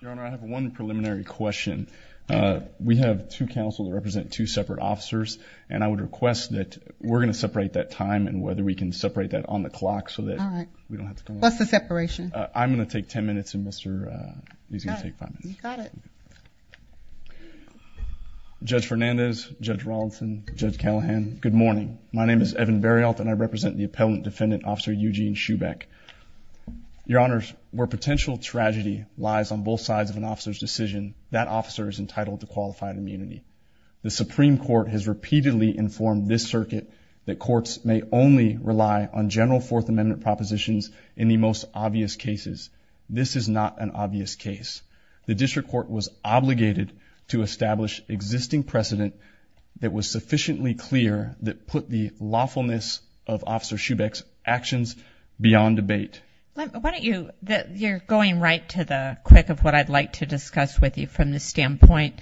Your Honor, I have one preliminary question. We have two counsels that represent two separate officers and I would request that we're going to separate that time and whether we can separate that on the clock so that we don't have to come up with a separation. I'm going to take ten minutes and Mr. Lee is going to take five minutes. You got it. Judge Fernandez, Judge Rawlinson, Judge Callahan, good morning. My name is Evan Berrioth and I represent the on both sides of an officer's decision, that officer is entitled to qualified immunity. The Supreme Court has repeatedly informed this circuit that courts may only rely on General Fourth Amendment propositions in the most obvious cases. This is not an obvious case. The District Court was obligated to establish existing precedent that was sufficiently clear that put the lawfulness of Officer Schubeck's actions beyond debate. Why don't you, you're going right to the quick of what I'd like to discuss with you from the standpoint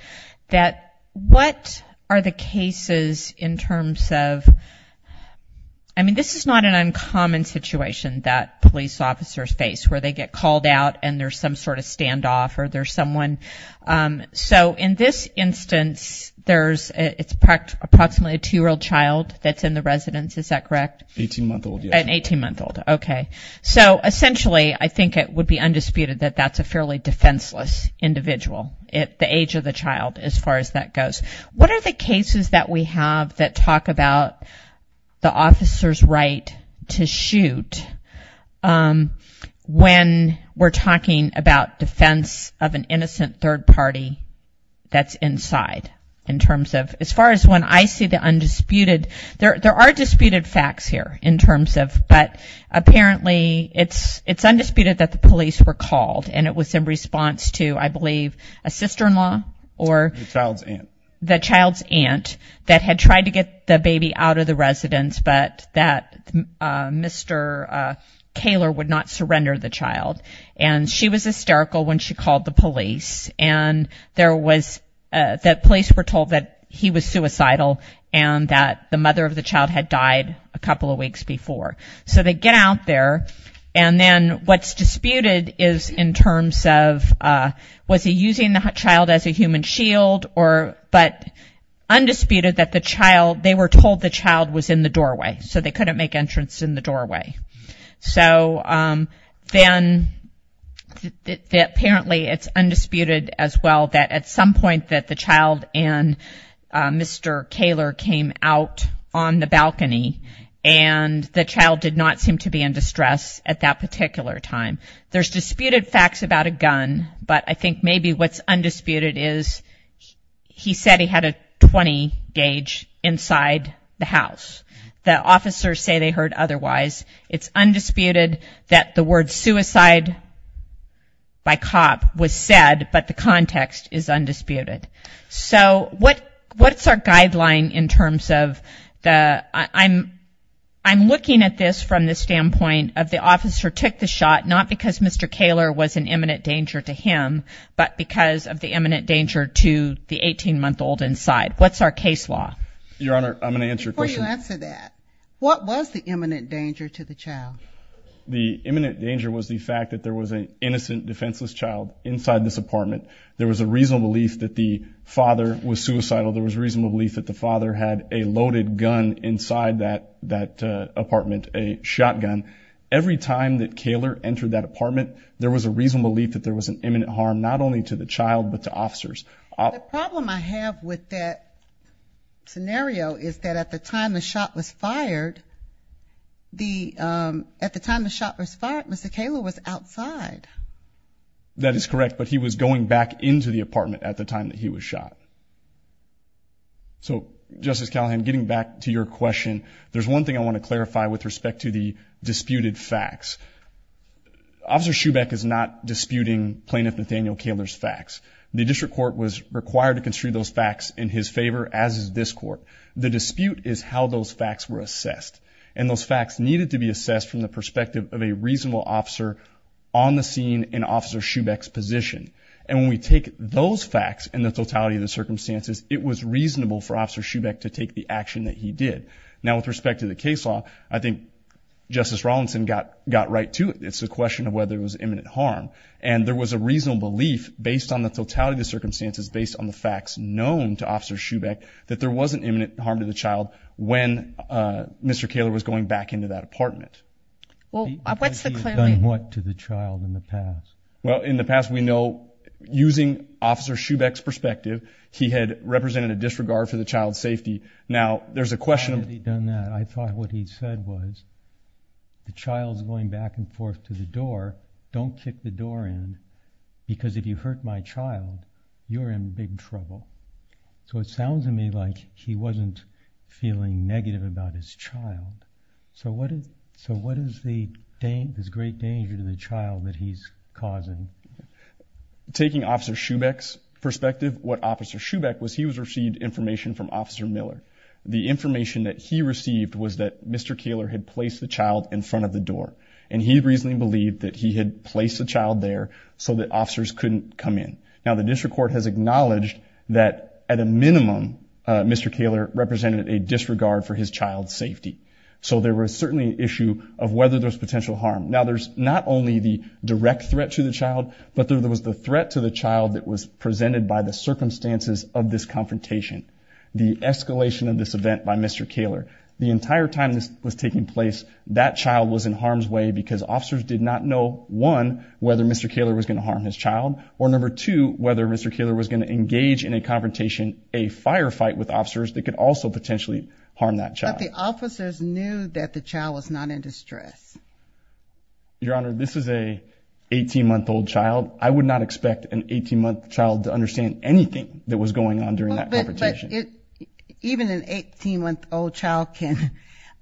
that what are the cases in terms of, I mean this is not an uncommon situation that police officers face where they get called out and there's some sort of standoff or there's someone, so in this instance there's, it's approximately a two-year-old child that's in the residence, is that correct? Eighteen month old, yes. An eighteen month old, okay. So essentially I think it would be undisputed that that's a fairly defenseless individual, the age of the child as far as that goes. What are the cases that we have that talk about the officer's right to shoot when we're talking about defense of an innocent third party that's inside in terms of, as far as when I see the undisputed, there are disputed facts here in terms of, but apparently it's undisputed that the police were called and it was in response to I believe a sister-in-law or the child's aunt that had tried to get the baby out of the residence but that Mr. Kaler would not surrender the child and she was hysterical when she called the police and there was, the police were suicidal and that the mother of the child had died a couple of weeks before. So they get out there and then what's disputed is in terms of was he using the child as a human shield or, but undisputed that the child, they were told the child was in the doorway so they couldn't make entrance in the doorway. So then apparently it's undisputed as well that at some point that the child and Mr. Kaler came out on the balcony and the child did not seem to be in distress at that particular time. There's disputed facts about a gun but I think maybe what's undisputed is he said he had a 20 gauge inside the house. The officers say they heard otherwise. It's undisputed that the word suicide by cop was said but the context is undisputed. So what's our guideline in terms of the, I'm looking at this from the standpoint of the officer took the shot not because Mr. Kaler was an imminent danger to him but because of the imminent danger to the 18 month old inside. What's our case law? Your Honor, I'm going to answer your question. Before you answer that, what was the imminent danger to the child? The imminent danger was the fact that there was an innocent defenseless child inside this apartment. There was a reasonable belief that the father was suicidal. There was a reasonable belief that the father had a loaded gun inside that apartment, a shotgun. Every time that Kaler entered that apartment, there was a reasonable belief that there was an imminent harm not only to the child but to officers. The problem I have with that scenario is that at the time the shot was fired, the, at the time the shot was fired, Mr. Kaler was outside. That is correct, but he was going back into the apartment at the time that he was shot. So Justice Callahan, getting back to your question, there's one thing I want to clarify with respect to the disputed facts. Officer Shubeck is not disputing plaintiff Nathaniel Kaler's facts. The district court was required to construe those facts in his favor as is this court. The dispute is how those facts were assessed and those facts needed to be seen in Officer Shubeck's position. And when we take those facts and the totality of the circumstances, it was reasonable for Officer Shubeck to take the action that he did. Now with respect to the case law, I think Justice Rawlinson got right to it. It's a question of whether it was imminent harm. And there was a reasonable belief based on the totality of the circumstances, based on the facts known to Officer Shubeck, that there was an imminent harm to the child when Mr. Kaler was going back into that apartment. Well, what's the claim? Because he had done what to the child in the past? Well, in the past we know, using Officer Shubeck's perspective, he had represented a disregard for the child's safety. Now, there's a question of... How had he done that? I thought what he said was, the child's going back and forth to the door, don't kick the door in because if you hurt my child, you're in big trouble. So it was a question of, what is the great danger to the child that he's causing? Taking Officer Shubeck's perspective, what Officer Shubeck was, he received information from Officer Miller. The information that he received was that Mr. Kaler had placed the child in front of the door. And he reasonably believed that he had placed the child there so that officers couldn't come in. Now, the district court has acknowledged that at a minimum, Mr. Kaler represented a disregard for his child's safety. So there was certainly an issue of whether there was potential harm. Now, there's not only the direct threat to the child, but there was the threat to the child that was presented by the circumstances of this confrontation, the escalation of this event by Mr. Kaler. The entire time this was taking place, that child was in harm's way because officers did not know, one, whether Mr. Kaler was going to harm his child, or number two, whether Mr. Kaler was going to engage in a confrontation, a firefight with officers that could also potentially harm that child. But the officers knew that the child was not in distress. Your Honor, this is a 18-month-old child. I would not expect an 18-month-old child to understand anything that was going on during that confrontation. But even an 18-month-old child can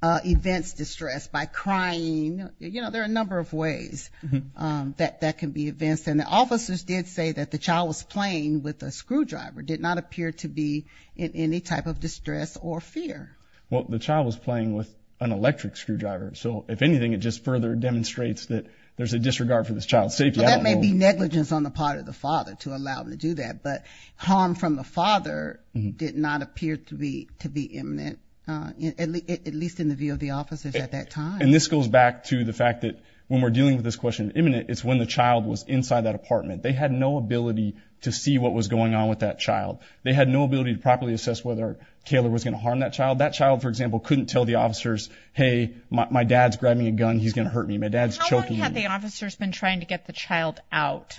evince distress by crying. You know, there are a number of ways that that can be evinced. And the officers did say that the child was playing with a screwdriver, did not appear to be in any type of distress or fear. Well, the child was playing with an electric screwdriver, so if anything, it just further demonstrates that there's a disregard for this child's safety. Well, that may be negligence on the part of the father to allow him to do that, but harm from the father did not appear to be imminent, at least in the view of the officers at that time. And this goes back to the fact that when we're dealing with this question of imminent, it's when the child was inside that apartment. They had no ability to see what was going on with that child. They had no ability to properly assess whether Kaler was going to harm that child. That child, for example, couldn't tell the officers, hey, my dad's grabbing a gun, he's going to hurt me. My dad's choking me. How long had the officers been trying to get the child out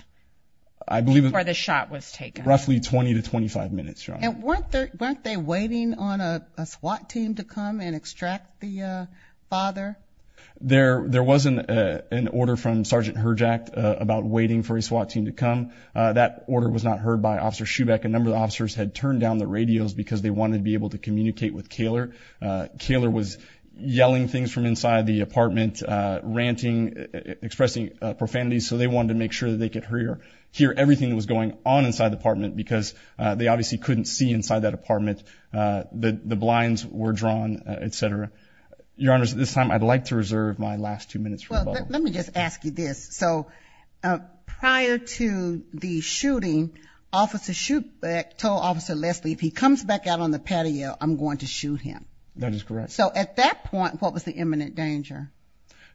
before the shot was taken? Roughly 20 to 25 minutes, Your Honor. And weren't they waiting on a SWAT team to come and extract the father? There wasn't an order from Sergeant Herjack about waiting for a SWAT team to come. That order was not heard by Officer Schubeck. A number of officers had turned down the radios because they wanted to be able to communicate with Kaler. Kaler was yelling things from inside the apartment, ranting, expressing profanity. So they wanted to make sure that they could hear everything that was going on inside the apartment because they obviously couldn't see inside that apartment. The blinds were drawn, et cetera. Your Honor, at this time, I'd like to reserve my last two minutes for rebuttal. Let me just ask you this. So prior to the shooting, Officer Schubeck told Officer Leslie, if he comes back out on the patio, I'm going to shoot him. That is correct. So at that point, what was the imminent danger?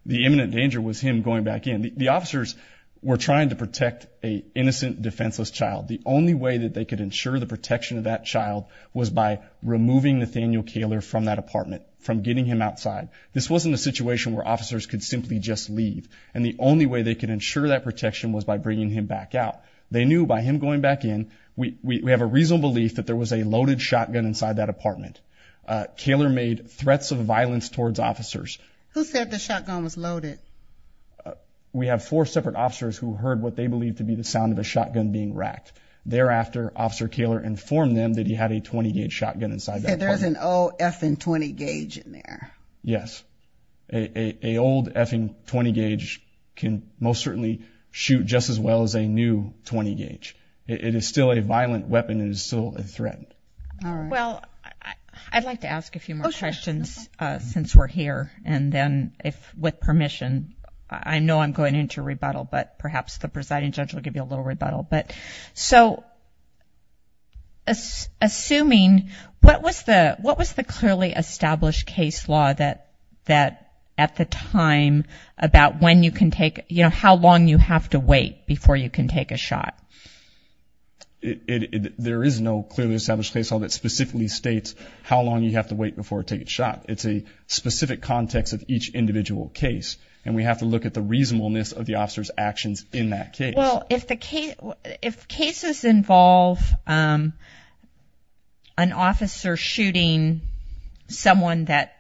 The imminent danger was him going back in. The officers were trying to protect an innocent, defenseless child. The only way that they could ensure the protection of that child was by removing Nathaniel Kaler from that apartment, from getting him outside. This wasn't a situation where officers could simply just leave. And the only way they could ensure that protection was by bringing him back out. They knew by him going back in, we have a reasonable belief that there was a loaded shotgun inside that apartment. Kaler made threats of violence towards officers. Who said the shotgun was loaded? We have four separate officers who heard what they believed to be the sound of a shotgun being racked. Thereafter, Officer Kaler informed them that he had a 20-gauge shotgun inside that apartment. There's an old effing 20-gauge in there. Yes. An old effing 20-gauge can most certainly shoot just as well as a new 20-gauge. It is still a violent weapon. It is still a threat. Well, I'd like to ask a few more questions since we're here. And then if, with permission, I know I'm going into a rebuttal, but perhaps the presiding judge will give you a little that at the time about when you can take, you know, how long you have to wait before you can take a shot. There is no clearly established case law that specifically states how long you have to wait before taking a shot. It's a specific context of each individual case. And we have to look at the reasonableness of the officer's actions in that case. Well, if the case, if cases involve an officer shooting someone that,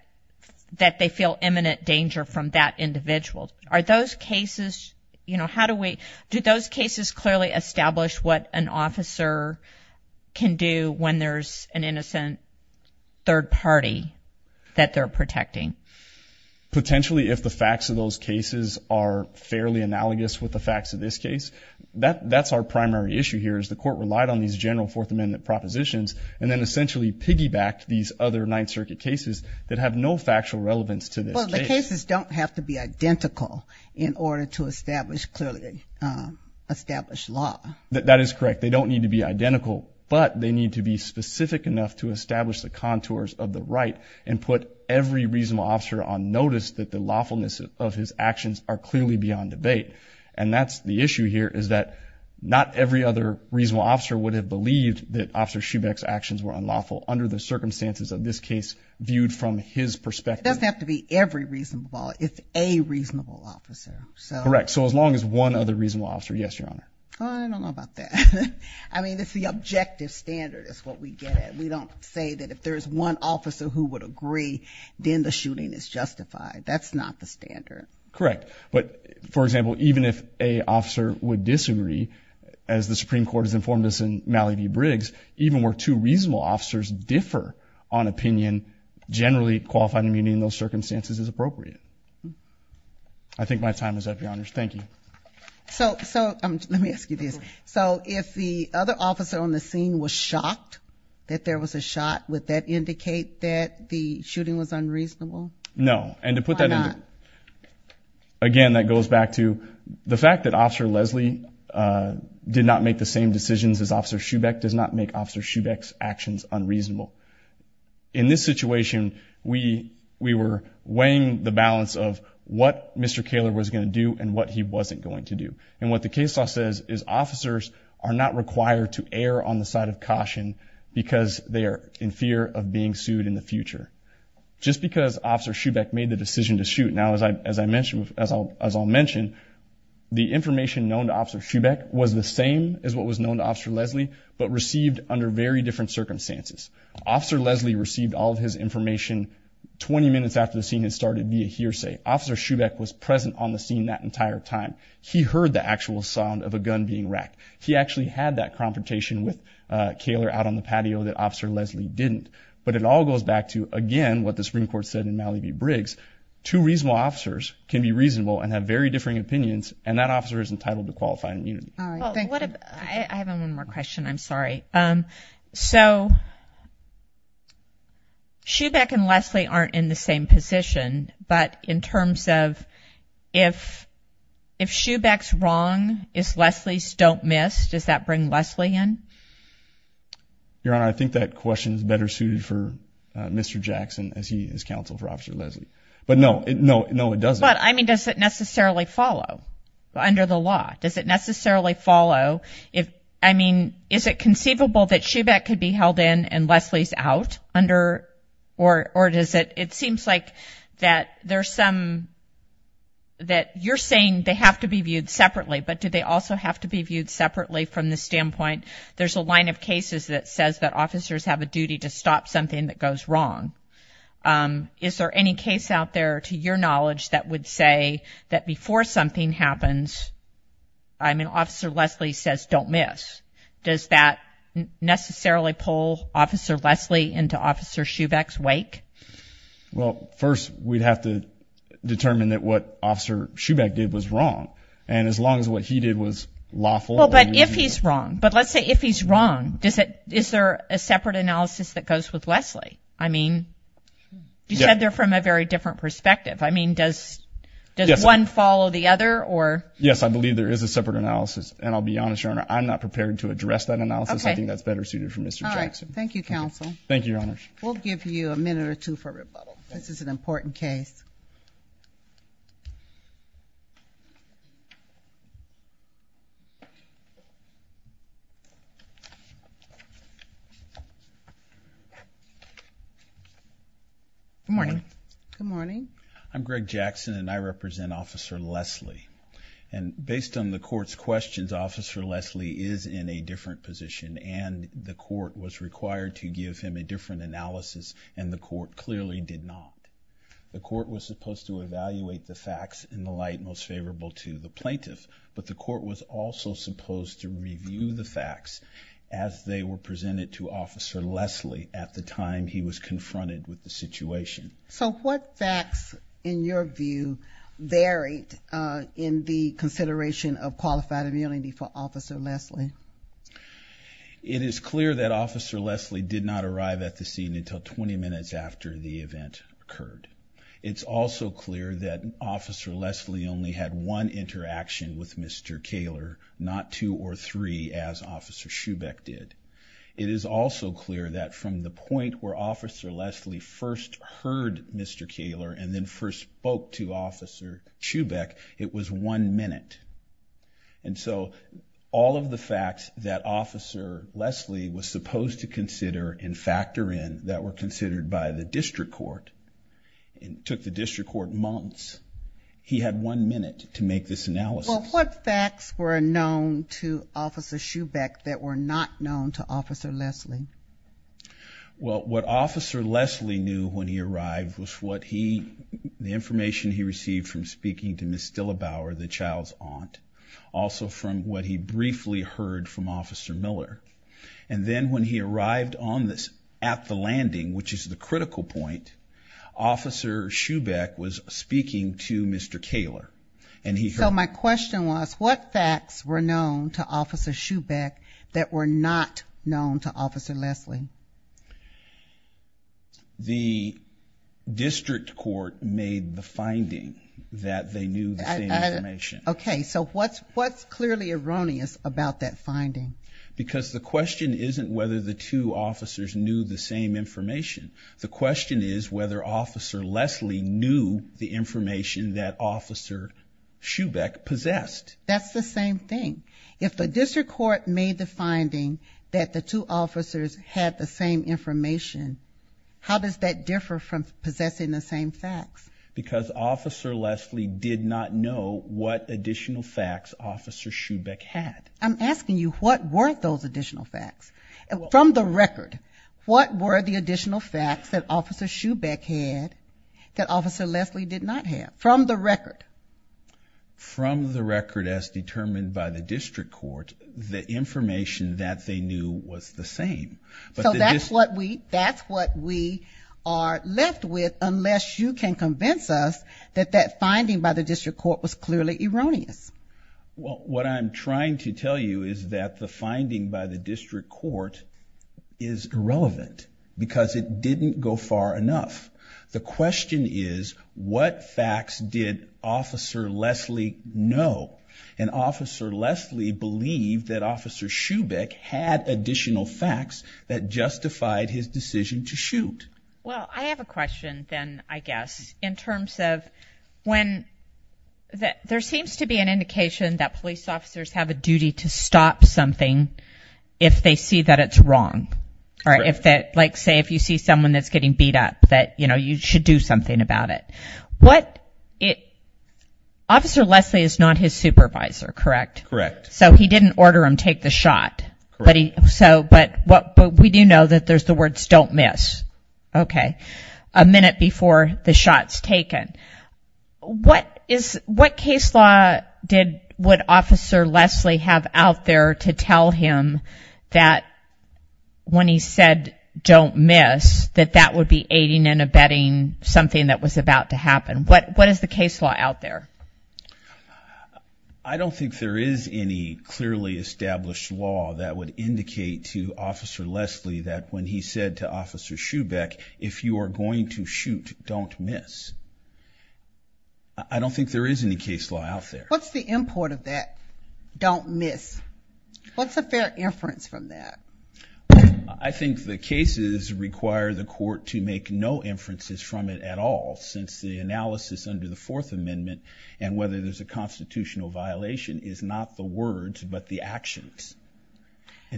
that they feel imminent danger from that individual, are those cases, you know, how do we, do those cases clearly establish what an officer can do when there's an innocent third party that they're protecting? Potentially, if the facts of those cases are fairly analogous with the facts of this case, that's our primary issue here is the court relied on these general Fourth Amendment propositions and then essentially piggybacked these other Ninth Circuit cases that have no factual relevance to this case. Well, the cases don't have to be identical in order to establish clearly, establish law. That is correct. They don't need to be identical, but they need to be specific enough to establish the contours of the right and put every reasonable officer on notice that the lawfulness of his actions are clearly beyond debate. And that's the issue here is that not every other reasonable officer would have believed that Officer Schubeck's actions were unlawful under the circumstances of this case viewed from his perspective. It doesn't have to be every reasonable officer. It's a reasonable officer. Correct. So as long as one other reasonable officer, yes, Your Honor. I don't know about that. I mean, it's the objective standard is what we get at. We don't say that if there's one officer who would agree, then the shooting is justified. That's not the standard. Correct. But for example, even if a officer would disagree, as the Supreme Court has informed us in Malley v. Briggs, even where two reasonable officers differ on opinion, generally qualified immunity in those circumstances is appropriate. I think my time is up, Your Honors. Thank you. So, so let me ask you this. So if the other officer on the scene was shocked that there was a shot, would that indicate that the shooting was unreasonable? No. And to put that in, again, that goes back to the fact that Officer Leslie did not make the same decisions as Officer Schubeck does not make Officer Schubeck's actions unreasonable. In this situation, we, we were weighing the balance of what Mr. Kaler was going to do and what he wasn't going to do. And what the case law says is officers are not required to err on the side of caution because they are in fear of being sued in the future. Just because Officer Schubeck made the decision to shoot, now as I, as I mentioned, as I'll, as I'll mention, the information known to Officer Schubeck was the same as what was known to Officer Leslie, but received under very different circumstances. Officer Leslie received all of his information 20 minutes after the scene had started via hearsay. Officer Schubeck was present on the scene that entire time. He heard the actual sound of a gun being fired. He heard that confrontation with Kaler out on the patio that Officer Leslie didn't. But it all goes back to, again, what the Supreme Court said in Malley v. Briggs. Two reasonable officers can be reasonable and have very differing opinions, and that officer is entitled to qualifying immunity. All right. Thank you. Well, what if, I have one more question. I'm sorry. So, Schubeck and Leslie aren't in the same position, but in terms of if, if Schubeck's wrong, if Leslie's don't miss, does that bring Leslie in? Your Honor, I think that question is better suited for Mr. Jackson as he is counsel for Officer Leslie. But no, no, no, it doesn't. But, I mean, does it necessarily follow under the law? Does it necessarily follow if, I mean, is it conceivable that Schubeck could be held in and Leslie's out under, or, or does it, it seems like that there's some, that you're saying they have to be viewed at some point. There's a line of cases that says that officers have a duty to stop something that goes wrong. Is there any case out there, to your knowledge, that would say that before something happens, I mean, Officer Leslie says, don't miss. Does that necessarily pull Officer Leslie into Officer Schubeck's wake? Well, first we'd have to determine that what Officer Schubeck did was wrong. And as long as what he did was lawful, Well, but if he's wrong, but let's say if he's wrong, does it, is there a separate analysis that goes with Leslie? I mean, you said they're from a very different perspective. I mean, does, does one follow the other or? Yes, I believe there is a separate analysis. And I'll be honest, Your Honor, I'm not prepared to address that analysis. I think that's better suited for Mr. Jackson. Thank you, counsel. Thank you, Your Honor. We'll give you a minute or two for rebuttal. This is an important case. Good morning. Good morning. I'm Greg Jackson and I represent Officer Leslie. And based on the court's questions, Officer Leslie is in a different position and the court was required to give him a different analysis, and the court clearly did not. The court was supposed to evaluate the facts in the light most favorable to the plaintiff, but the court was also supposed to review the facts as they were presented to Officer Leslie at the time he was confronted with the situation. So what facts in your view varied in the consideration of qualified immunity for Officer Leslie? It is clear that Officer Leslie did not arrive at the scene until 20 minutes after the event occurred. It's also clear that Officer Leslie only had one interaction with Mr. Kaler, not two or three as Officer Schubeck did. It is also clear that from the point where Officer Leslie first heard Mr. Kaler and then first spoke to Officer Schubeck, it was one minute. And so all of the facts that Officer Leslie was supposed to consider and factor in that were considered by the district court and took the district court months, he had one minute to make this analysis. Well, what facts were known to Officer Schubeck that were not known to Officer Leslie? Well what Officer Leslie knew when he arrived was what he, the information he received from speaking to Ms. Stillabower, the child's aunt, also from what he briefly heard from Officer Miller. And then when he arrived on this, at the landing, which is the critical point, Officer Schubeck was speaking to Mr. Kaler. So my question was, what facts were known to Officer Schubeck that were not known to Officer Leslie? The district court made the finding that they knew the same information. Okay, so what's clearly erroneous about that finding? Because the question isn't whether the two officers knew the same information. The question is whether Officer Leslie knew the information that Officer Schubeck possessed. That's the same thing. If the district court made the finding that the two officers had the same information, how does that differ from possessing the same facts? Because Officer Leslie did not know what additional facts Officer Schubeck had. I'm asking you, what were those additional facts? From the record, what were the additional facts that Officer Schubeck had that Officer Leslie did not have, from the record? From the record as determined by the district court, the information that they knew was the same. So that's what we are left with, unless you can convince us that that finding by the district court was clearly erroneous. What I'm trying to tell you is that the finding by the district court is irrelevant, because it didn't go far enough. The question is, what facts did Officer Leslie know? And Officer Leslie believed that Officer Schubeck had additional facts that justified his decision to shoot. Well, I have a question then, I guess, in terms of when there seems to be an indication that police officers have a duty to stop something if they see that it's wrong. Like say, if you see someone that's getting beat up, that you should do something about it. Officer Leslie is not his supervisor, correct? Correct. So he didn't order him to take the shot, but we do know that there's the words, don't miss, a minute before the shot's taken. What case law would Officer Leslie have out there to tell him that when he said, don't miss, that that would be aiding and abetting something that was about to happen? What is the case law out there? I don't think there is any clearly established law that would indicate to Officer Leslie that when he said to Officer Schubeck, if you are going to shoot, don't miss. I don't think there is any case law out there. What's the import of that, don't miss? What's a fair inference from that? I think the cases require the court to make no inferences from it at all, since the analysis under the Fourth Amendment and whether there's a constitutional violation is not the words, but the actions.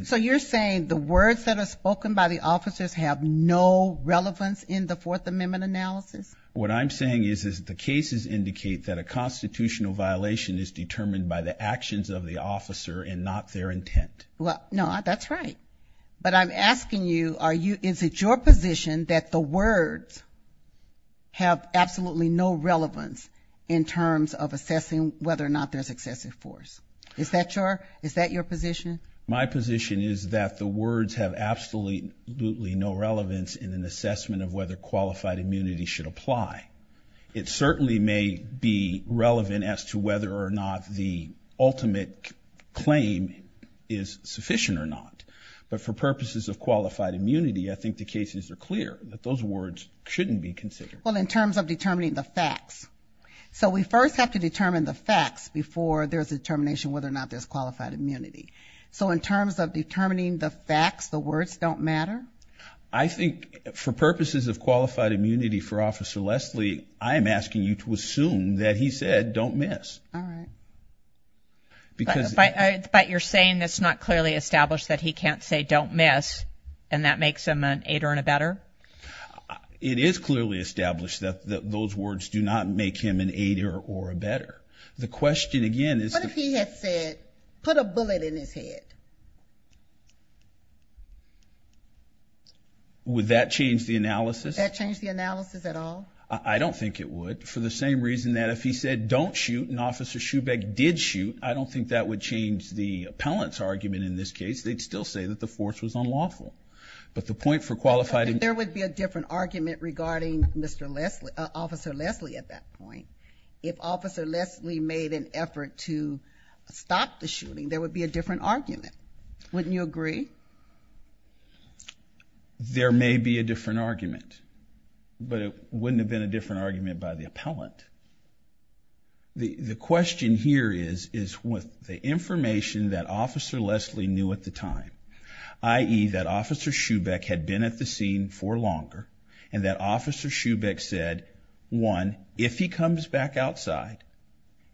So you're saying the words that are spoken by the officers have no relevance in the Fourth Amendment analysis? What I'm saying is that the cases indicate that a constitutional violation is determined by the actions of the officer and not their intent. Well, no, that's right. But I'm asking you, is it your position that the words have absolutely no relevance in terms of assessing whether or not there's excessive force? Is that your position? My position is that the words have absolutely no relevance in an assessment of whether qualified immunity should apply. It certainly may be relevant as to whether or not the ultimate claim is sufficient or not. But for purposes of qualified immunity, I think the cases are clear that those words Well, in terms of determining the facts. So we first have to determine the facts before there's a determination whether or not there's qualified immunity. So in terms of determining the facts, the words don't matter? I think for purposes of qualified immunity for Officer Leslie, I am asking you to assume that he said don't miss. All right. But you're saying that's not clearly established that he can't say don't miss and that makes him an aider and a better? It is clearly established that those words do not make him an aider or a better. The question again is What if he had said put a bullet in his head? Would that change the analysis? That change the analysis at all? I don't think it would. For the same reason that if he said don't shoot and Officer Schubeck did shoot, I don't think that would change the appellant's argument in this case. They'd still say that the force was unlawful. But the point for qualified... There would be a different argument regarding Officer Leslie at that point. If Officer Leslie made an effort to stop the shooting, there would be a different argument. Wouldn't you agree? There may be a different argument, but it wouldn't have been a different argument by the appellant. The question here is with the information that Officer Leslie knew at the time, i.e. that Officer Schubeck had been at the scene for longer, and that Officer Schubeck said, one, if he comes back outside,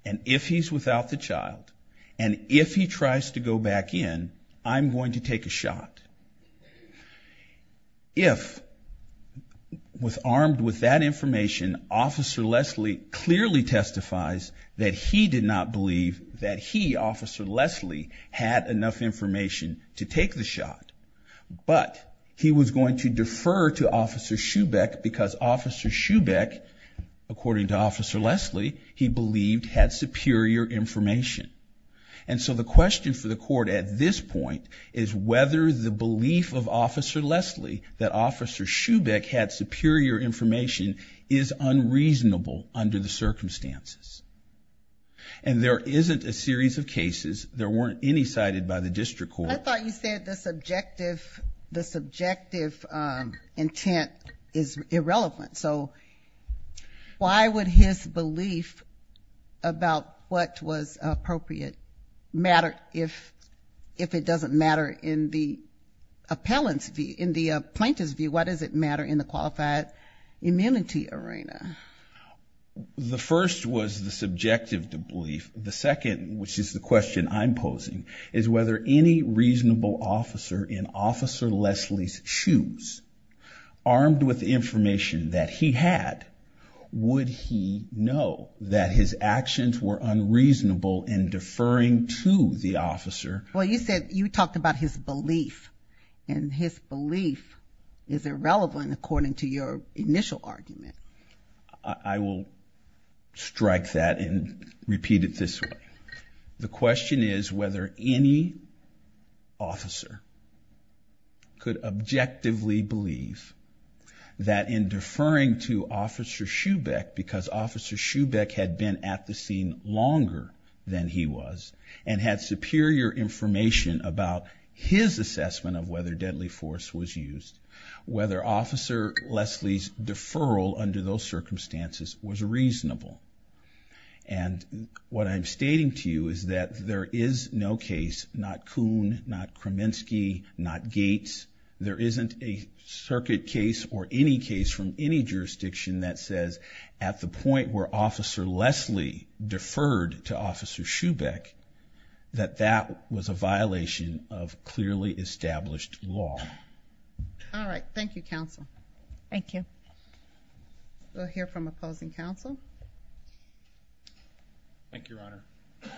and if he's without the child, and if he tries to go back in, I'm going to take a shot. If armed with that information, Officer Leslie clearly testifies that he did not believe that he, Officer Leslie, had enough information to take the shot, but he was going to defer to Officer Schubeck because Officer Schubeck, according to Officer Leslie, he believed had superior information. And so the question for the court at this point is whether the belief of Officer Leslie that Officer Schubeck had superior information is unreasonable under the circumstances. And there isn't a series of cases. There weren't any cited by the district court. I thought you said the subjective intent is irrelevant, so why would his belief about what was appropriate matter if it doesn't matter in the appellant's view? In the plaintiff's view, why does it matter in the qualified immunity arena? The first was the subjective belief. The second, which is the question I'm posing, is whether any reasonable officer in Officer Leslie's shoes, armed with the information that he had, would he know that his actions were unreasonable in deferring to the officer. Well, you said, you talked about his belief, and his belief is irrelevant according to your initial argument. I will strike that and repeat it this way. The question is whether any officer could objectively believe that in deferring to Officer Schubeck because Officer Schubeck had been at the scene longer than he was and had superior information about his assessment of whether deadly force was used, whether Officer Leslie's deferral under those circumstances was reasonable. And what I'm stating to you is that there is no case, not Kuhn, not Kraminski, not Gates, there isn't a circuit case or any case from any jurisdiction that says at the point where Officer Schubeck, that that was a violation of clearly established law. All right, thank you, counsel. Thank you. We'll hear from opposing counsel. Thank you, Your Honor. Good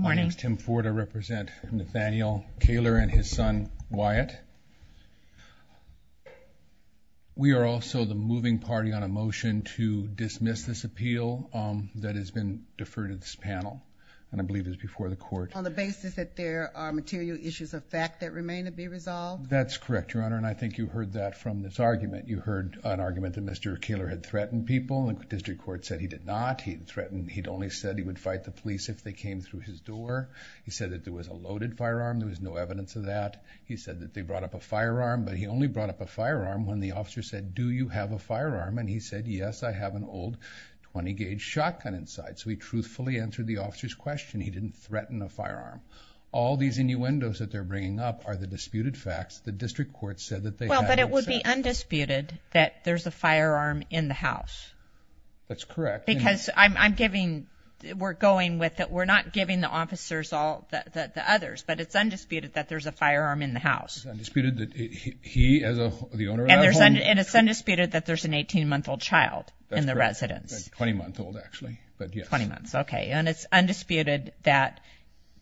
morning. My name is Tim Ford. I represent Nathaniel Kaler and his son, Wyatt. We are also the moving party on a motion to dismiss this appeal that has been deferred to this panel and I believe is before the court. On the basis that there are material issues of fact that remain to be resolved? That's correct, Your Honor, and I think you heard that from this argument. You heard an argument that Mr. Kaler had threatened people and the district court said he did not. He threatened, he'd only said he would fight the police if they came through his door. He said that there was a loaded firearm, there was no evidence of that. He said that they brought up a firearm, but he only brought up a firearm when the officer said, do you have a firearm? And he said, yes, I have an old 20-gauge shotgun inside. So he truthfully answered the officer's question. He didn't threaten a firearm. All these innuendos that they're bringing up are the disputed facts. The district court said that they had no access. Well, but it would be undisputed that there's a firearm in the house. That's correct. Because I'm giving, we're going with it. We're not giving the officers all, the others, but it's undisputed that there's a firearm in the house. It's undisputed that he, as the owner of that home. And it's undisputed that there's an 18-month-old child in the residence. That's correct. 20-month-old, actually. But yes. 20 months, okay. And it's undisputed that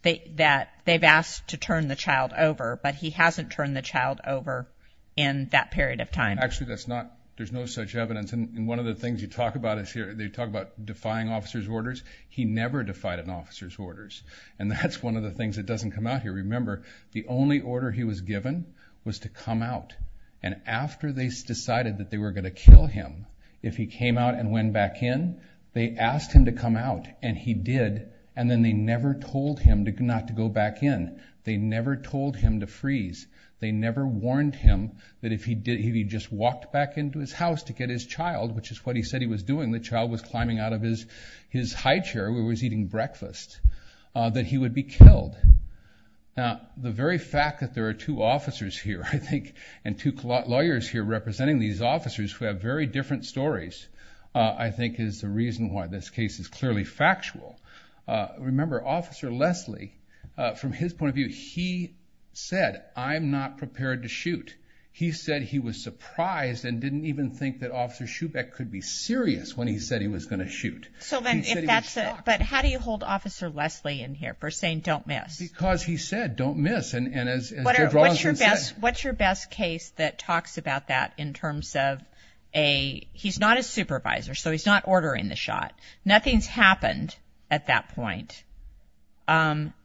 they've asked to turn the child over, but he hasn't turned the child over in that period of time. Actually, that's not, there's no such evidence. And one of the things you talk about is here, they talk about defying officer's orders. He never defied an officer's orders. And that's one of the things that doesn't come out here. Remember, the only order he was given was to come out. And after they decided that they were going to kill him, if he came out and went back in, they asked him to come out, and he did. And then they never told him not to go back in. They never told him to freeze. They never warned him that if he did, if he just walked back into his house to get his high chair where he was eating breakfast, that he would be killed. Now, the very fact that there are two officers here, I think, and two lawyers here representing these officers who have very different stories, I think is the reason why this case is clearly factual. Remember, Officer Leslie, from his point of view, he said, I'm not prepared to shoot. He said he was surprised and didn't even think that Officer Schubeck could be serious when he said he was going to shoot. So then, if that's it, but how do you hold Officer Leslie in here for saying, don't miss? Because he said, don't miss. And what's your best case that talks about that in terms of a, he's not a supervisor, so he's not ordering the shot. Nothing's happened at that point.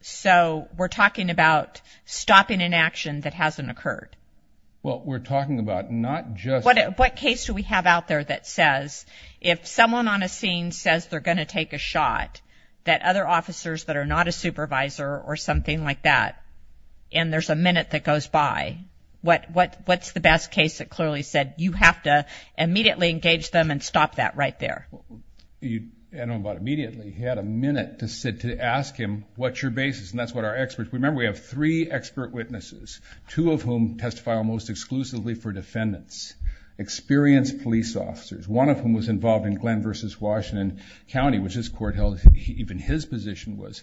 So we're talking about stopping an action that hasn't occurred. Well, we're talking about not just... Because they're going to take a shot, that other officers that are not a supervisor or something like that, and there's a minute that goes by. What's the best case that clearly said, you have to immediately engage them and stop that right there? I don't know about immediately, he had a minute to ask him, what's your basis, and that's what our experts... Remember, we have three expert witnesses, two of whom testify almost exclusively for defendants, experienced police officers. One of them was involved in Glenn versus Washington County, which this court held, even his position was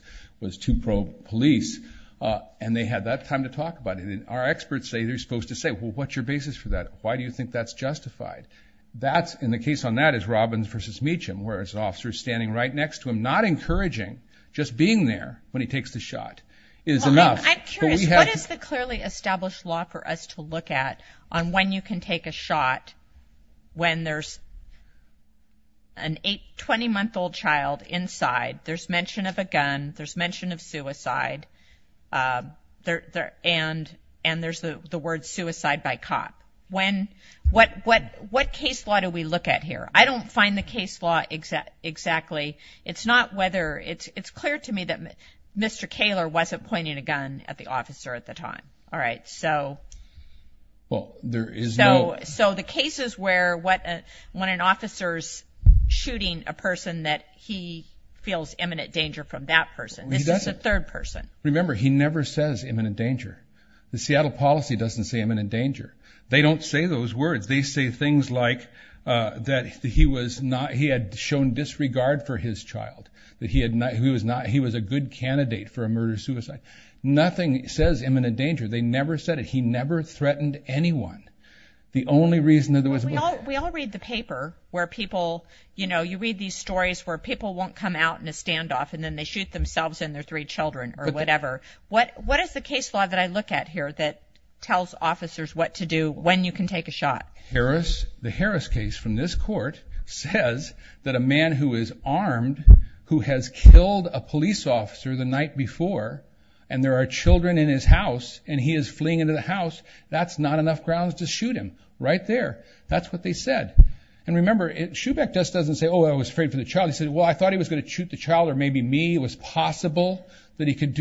to probe police. And they had that time to talk about it, and our experts say they're supposed to say, well, what's your basis for that? Why do you think that's justified? That's in the case on that is Robbins versus Meacham, where it's an officer standing right next to him, not encouraging, just being there when he takes the shot is enough. I'm curious, what is the clearly established law for us to look at on when you can take a shot, when there's an eight, 20-month-old child inside, there's mention of a gun, there's mention of suicide, and there's the word suicide by cop? What case law do we look at here? I don't find the case law exactly. It's not whether... It's clear to me that Mr. Kaler wasn't pointing a gun at the officer at the time, all right? So... So the cases where when an officer's shooting a person, that he feels imminent danger from that person. This is a third person. Remember, he never says imminent danger. The Seattle policy doesn't say imminent danger. They don't say those words. They say things like that he was not... He had shown disregard for his child, that he was a good candidate for a murder-suicide. Nothing says imminent danger. They never said it. He never threatened anyone. The only reason that there was... We all read the paper where people... You read these stories where people won't come out in a standoff, and then they shoot themselves and their three children, or whatever. What is the case law that I look at here that tells officers what to do when you can take a shot? Harris... The Harris case from this court says that a man who is armed, who has killed a police officer the night before, and there are children in his house, and he is fleeing into the house, that's not enough grounds to shoot him. Right there. That's what they said. And remember, Schubeck just doesn't say, oh, I was afraid for the child. He said, well, I thought he was going to shoot the child, or maybe me. It was possible that he could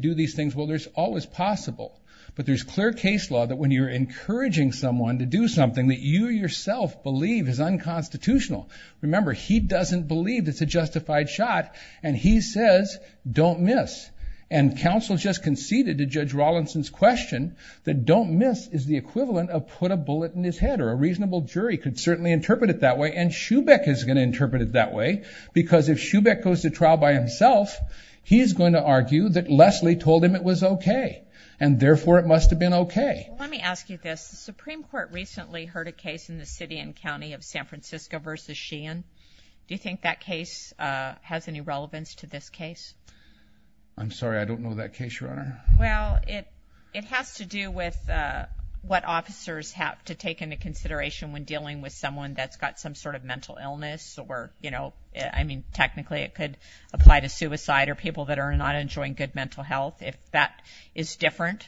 do these things. Well, there's always possible. But there's clear case law that when you're encouraging someone to do something that you yourself believe is unconstitutional. Remember, he doesn't believe it's a justified shot, and he says, don't miss. And counsel just conceded to Judge Rawlinson's question that don't miss is the equivalent of put a bullet in his head, or a reasonable jury could certainly interpret it that way, and Schubeck is going to interpret it that way, because if Schubeck goes to trial by himself, he's going to argue that Leslie told him it was okay, and therefore it must have been okay. Well, let me ask you this. The Supreme Court recently heard a case in the city and county of San Francisco v. Sheehan. Do you think that case has any relevance to this case? I'm sorry. I don't know that case, Your Honor. Well, it has to do with what officers have to take into consideration when dealing with someone that's got some sort of mental illness, or, you know, I mean, technically it could apply to suicide or people that are not enjoying good mental health, if that is different.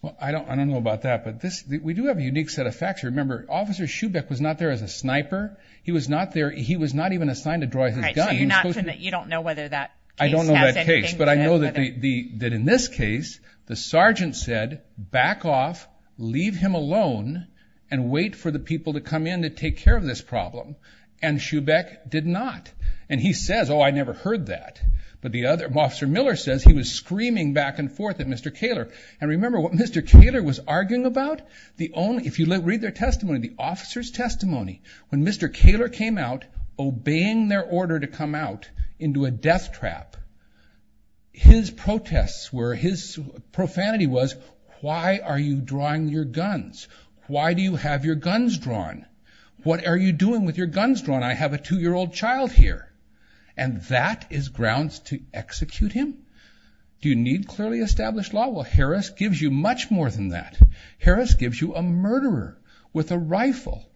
Well, I don't know about that, but we do have a unique set of facts. Remember, Officer Schubeck was not there as a sniper. He was not there. He was not even assigned to draw his gun. All right. So you're not, you don't know whether that case has anything to do with it? I don't know that case, but I know that in this case, the sergeant said, back off, leave him alone, and wait for the people to come in to take care of this problem, and Schubeck did not, and he says, oh, I never heard that, but the other, Officer Miller says he was screaming back and forth at Mr. Kaler, and remember what Mr. Kaler was arguing about? The only, if you read their testimony, the officer's testimony, when Mr. Kaler came out obeying their order to come out into a death trap, his protests were, his profanity was, why are you drawing your guns? Why do you have your guns drawn? What are you doing with your guns drawn? I have a two-year-old child here, and that is grounds to execute him. Do you need clearly established law? Well, Harris gives you much more than that. Harris gives you a murderer with a rifle,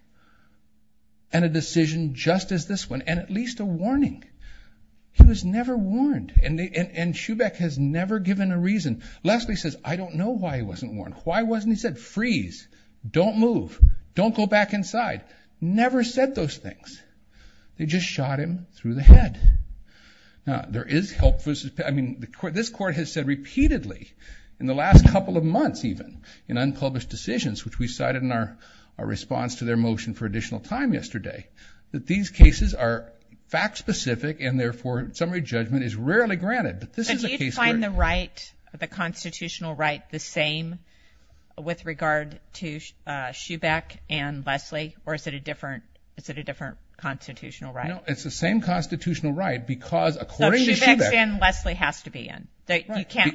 and a decision just as this one, and at least a warning. He was never warned, and Schubeck has never given a reason. Lastly, he says, I don't know why he wasn't warned. Why wasn't he said, freeze, don't move, don't go back inside. Never said those things. They just shot him through the head. Now, there is help versus, I mean, this court has said repeatedly, in the last couple of published decisions, which we cited in our response to their motion for additional time yesterday, that these cases are fact-specific, and therefore, summary judgment is rarely granted. But this is a case where- Do you find the right, the constitutional right, the same with regard to Schubeck and Leslie, or is it a different constitutional right? No, it's the same constitutional right, because according to Schubeck- So Schubeck's in, Leslie has to be in?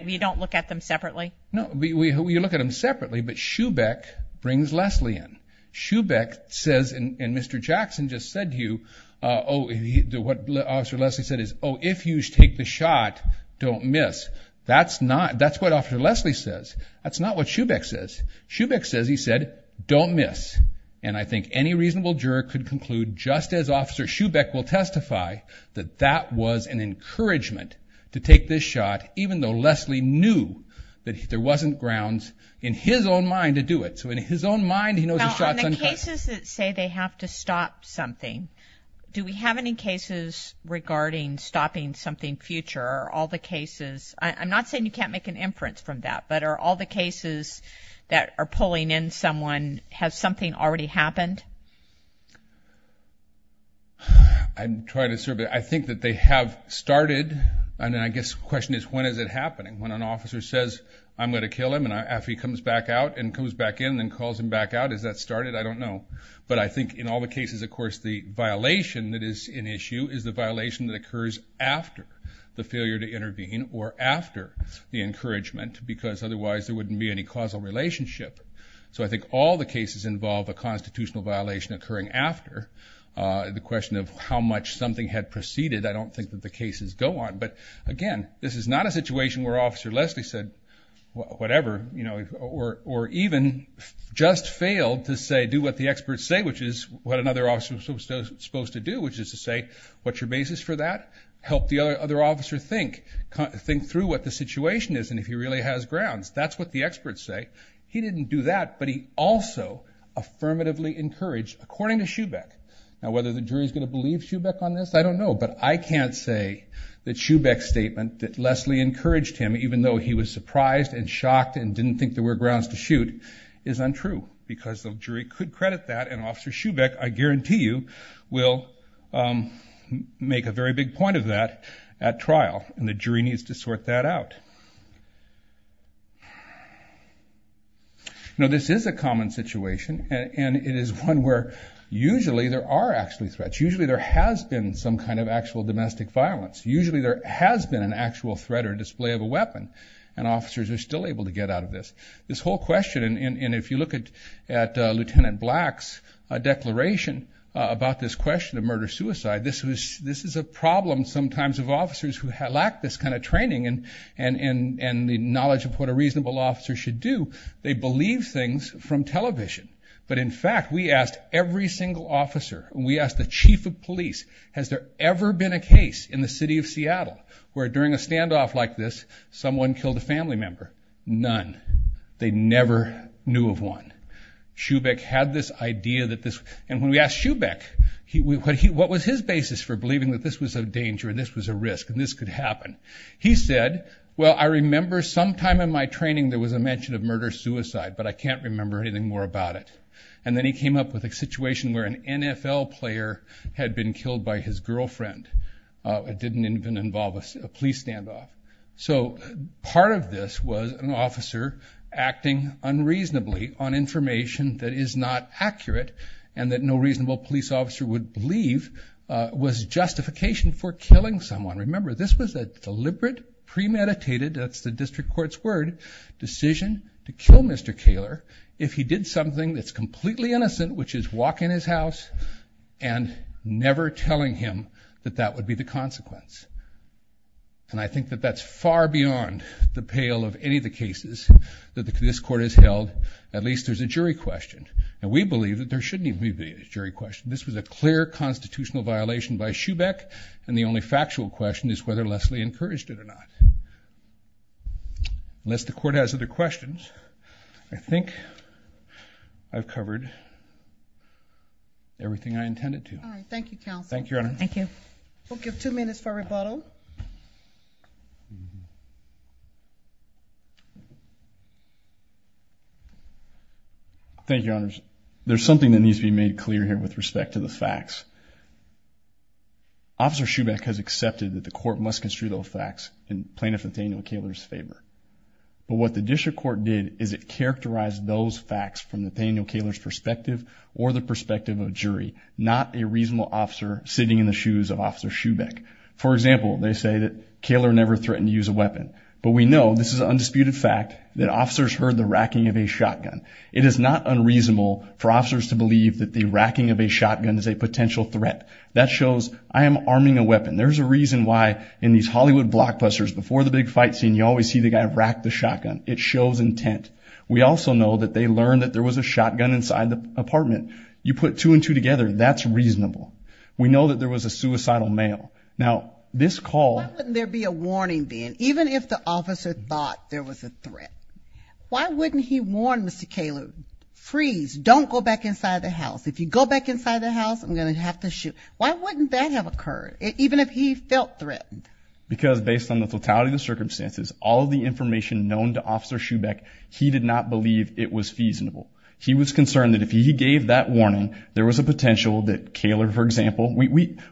You don't look at them separately? No, you look at them separately, but Schubeck brings Leslie in. Schubeck says, and Mr. Jackson just said to you, what Officer Leslie said is, oh, if you take the shot, don't miss. That's not, that's what Officer Leslie says. That's not what Schubeck says. Schubeck says, he said, don't miss. And I think any reasonable juror could conclude, just as Officer Schubeck will testify, that that was an encouragement to take this shot, even though Leslie knew that there wasn't grounds in his own mind to do it. So in his own mind, he knows the shot's uncovered. Now, on the cases that say they have to stop something, do we have any cases regarding stopping something future, or are all the cases, I'm not saying you can't make an inference from that, but are all the cases that are pulling in someone, has something already happened? I'm trying to, I think that they have started, and I guess the question is, when is it happening? When an officer says, I'm going to kill him, and after he comes back out, and comes back in, and calls him back out, has that started? I don't know. But I think in all the cases, of course, the violation that is an issue is the violation that occurs after the failure to intervene, or after the encouragement, because otherwise there wouldn't be any causal relationship. So I think all the cases involve a constitutional violation occurring after, the question of how much something had proceeded, I don't think that the cases go on. But again, this is not a situation where Officer Leslie said, whatever, or even just failed to say, do what the experts say, which is what another officer was supposed to do, which is to say, what's your basis for that? Help the other officer think. Think through what the situation is, and if he really has grounds. That's what the experts say. He didn't do that, but he also affirmatively encouraged, according to Shubeck, now whether the jury's going to believe Shubeck on this, I don't know. But I can't say that Shubeck's statement, that Leslie encouraged him, even though he was surprised, and shocked, and didn't think there were grounds to shoot, is untrue. Because the jury could credit that, and Officer Shubeck, I guarantee you, will make a very big point of that at trial, and the jury needs to sort that out. Now, this is a common situation, and it is one where usually there are actually threats. Usually there has been some kind of actual domestic violence. Usually there has been an actual threat or display of a weapon, and officers are still able to get out of this. This whole question, and if you look at Lieutenant Black's declaration about this question of murder-suicide, this is a problem sometimes of officers who lack this kind of training, and the knowledge of what a reasonable officer should do. They believe things from television. But in fact, we asked every single officer, and we asked the chief of police, has there ever been a case in the city of Seattle where during a standoff like this, someone killed a family member? None. They never knew of one. Shubeck had this idea that this, and when we asked Shubeck, what was his basis for believing that this was a danger, and this was a risk, and this could happen? He said, well, I remember sometime in my training there was a mention of murder-suicide, but I can't remember anything more about it. And then he came up with a situation where an NFL player had been killed by his girlfriend. It didn't even involve a police standoff. So part of this was an officer acting unreasonably on information that is not accurate, and that no reasonable police officer would believe was justification for killing someone. And remember, this was a deliberate, premeditated, that's the district court's word, decision to kill Mr. Kaler if he did something that's completely innocent, which is walk in his house and never telling him that that would be the consequence. And I think that that's far beyond the pale of any of the cases that this court has held. At least there's a jury question, and we believe that there shouldn't even be a jury question. This was a clear constitutional violation by Shubeck, and the only factual question is whether Leslie encouraged it or not. Unless the court has other questions, I think I've covered everything I intended to. All right, thank you, counsel. Thank you, Your Honor. Thank you. We'll give two minutes for rebuttal. Thank you, Your Honors. There's something that needs to be made clear here with respect to the facts. Officer Shubeck has accepted that the court must construe those facts in Plaintiff Nathaniel Kaler's favor, but what the district court did is it characterized those facts from Nathaniel Kaler's perspective or the perspective of jury, not a reasonable officer sitting in the shoes of Officer Shubeck. For example, they say that Kaler never threatened to use a weapon, but we know this is an undisputed fact that officers heard the racking of a shotgun. It is not unreasonable for officers to believe that the racking of a shotgun is a potential threat. That shows I am arming a weapon. There's a reason why in these Hollywood blockbusters, before the big fight scene, you always see the guy rack the shotgun. It shows intent. We also know that they learned that there was a shotgun inside the apartment. You put two and two together, that's reasonable. We know that there was a suicidal male. Now, this call... Why wouldn't there be a warning then, even if the officer thought there was a threat? Why wouldn't he warn Mr. Kaler, freeze, don't go back inside the house. If you go back inside the house, I'm going to have to shoot. Why wouldn't that have occurred, even if he felt threatened? Because based on the totality of the circumstances, all of the information known to Officer Shubeck, he did not believe it was feasible. He was concerned that if he gave that warning, there was a potential that Kaler, for example...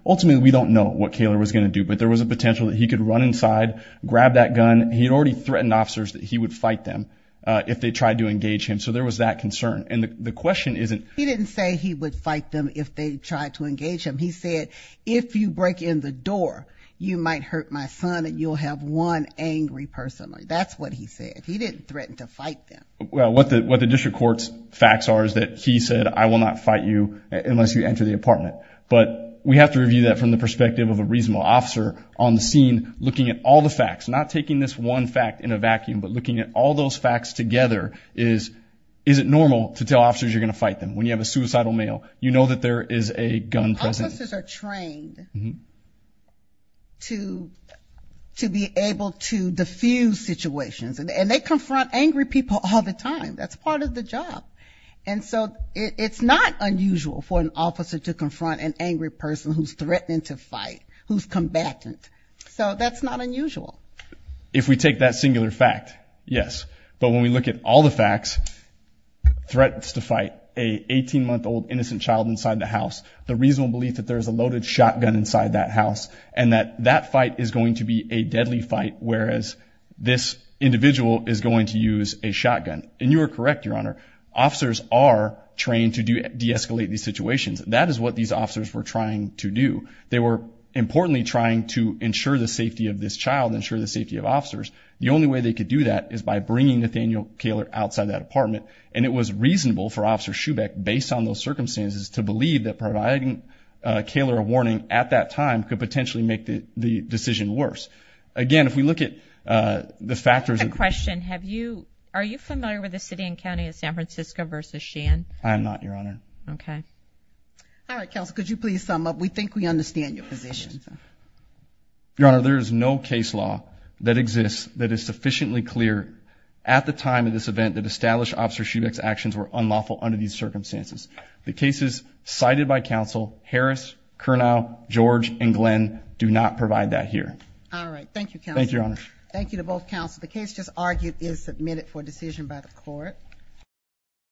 Ultimately, we don't know what Kaler was going to do, but there was a potential that he could run inside, grab that gun. He had already threatened officers that he would fight them if they tried to engage him. There was that concern. The question isn't... He didn't say he would fight them if they tried to engage him. He said, if you break in the door, you might hurt my son and you'll have one angry person. That's what he said. He didn't threaten to fight them. What the district court's facts are is that he said, I will not fight you unless you enter the apartment. We have to review that from the perspective of a reasonable officer on the scene, looking at all the facts, not taking this one fact in a vacuum, but looking at all those facts together is, is it normal to tell officers you're going to fight them? When you have a suicidal male, you know that there is a gun present. Officers are trained to be able to diffuse situations, and they confront angry people all the time. That's part of the job. And so it's not unusual for an officer to confront an angry person who's threatening to fight, who's combatant. So that's not unusual. If we take that singular fact, yes. But when we look at all the facts, threats to fight, a 18-month-old innocent child inside the house, the reasonable belief that there's a loaded shotgun inside that house, and that that fight is going to be a deadly fight, whereas this individual is going to use a shotgun. And you are correct, Your Honor. Officers are trained to de-escalate these situations. That is what these officers were trying to do. They were, importantly, trying to ensure the safety of this child, ensure the safety of officers. The only way they could do that is by bringing Nathaniel Kaler outside that apartment. And it was reasonable for Officer Schubeck, based on those circumstances, to believe that providing Kaler a warning at that time could potentially make the decision worse. Again, if we look at the factors of- I have a question. Have you, are you familiar with the city and county of San Francisco versus Sheehan? I am not, Your Honor. Okay. All right, Counsel. Could you please sum up? We think we understand your position. Your Honor, there is no case law that exists that is sufficiently clear at the time of this event that established Officer Schubeck's actions were unlawful under these circumstances. The cases cited by Counsel, Harris, Kernow, George, and Glenn, do not provide that here. All right. Thank you, Counsel. Thank you, Your Honor. Thank you to both Counsel. The case just argued is submitted for decision by the Court.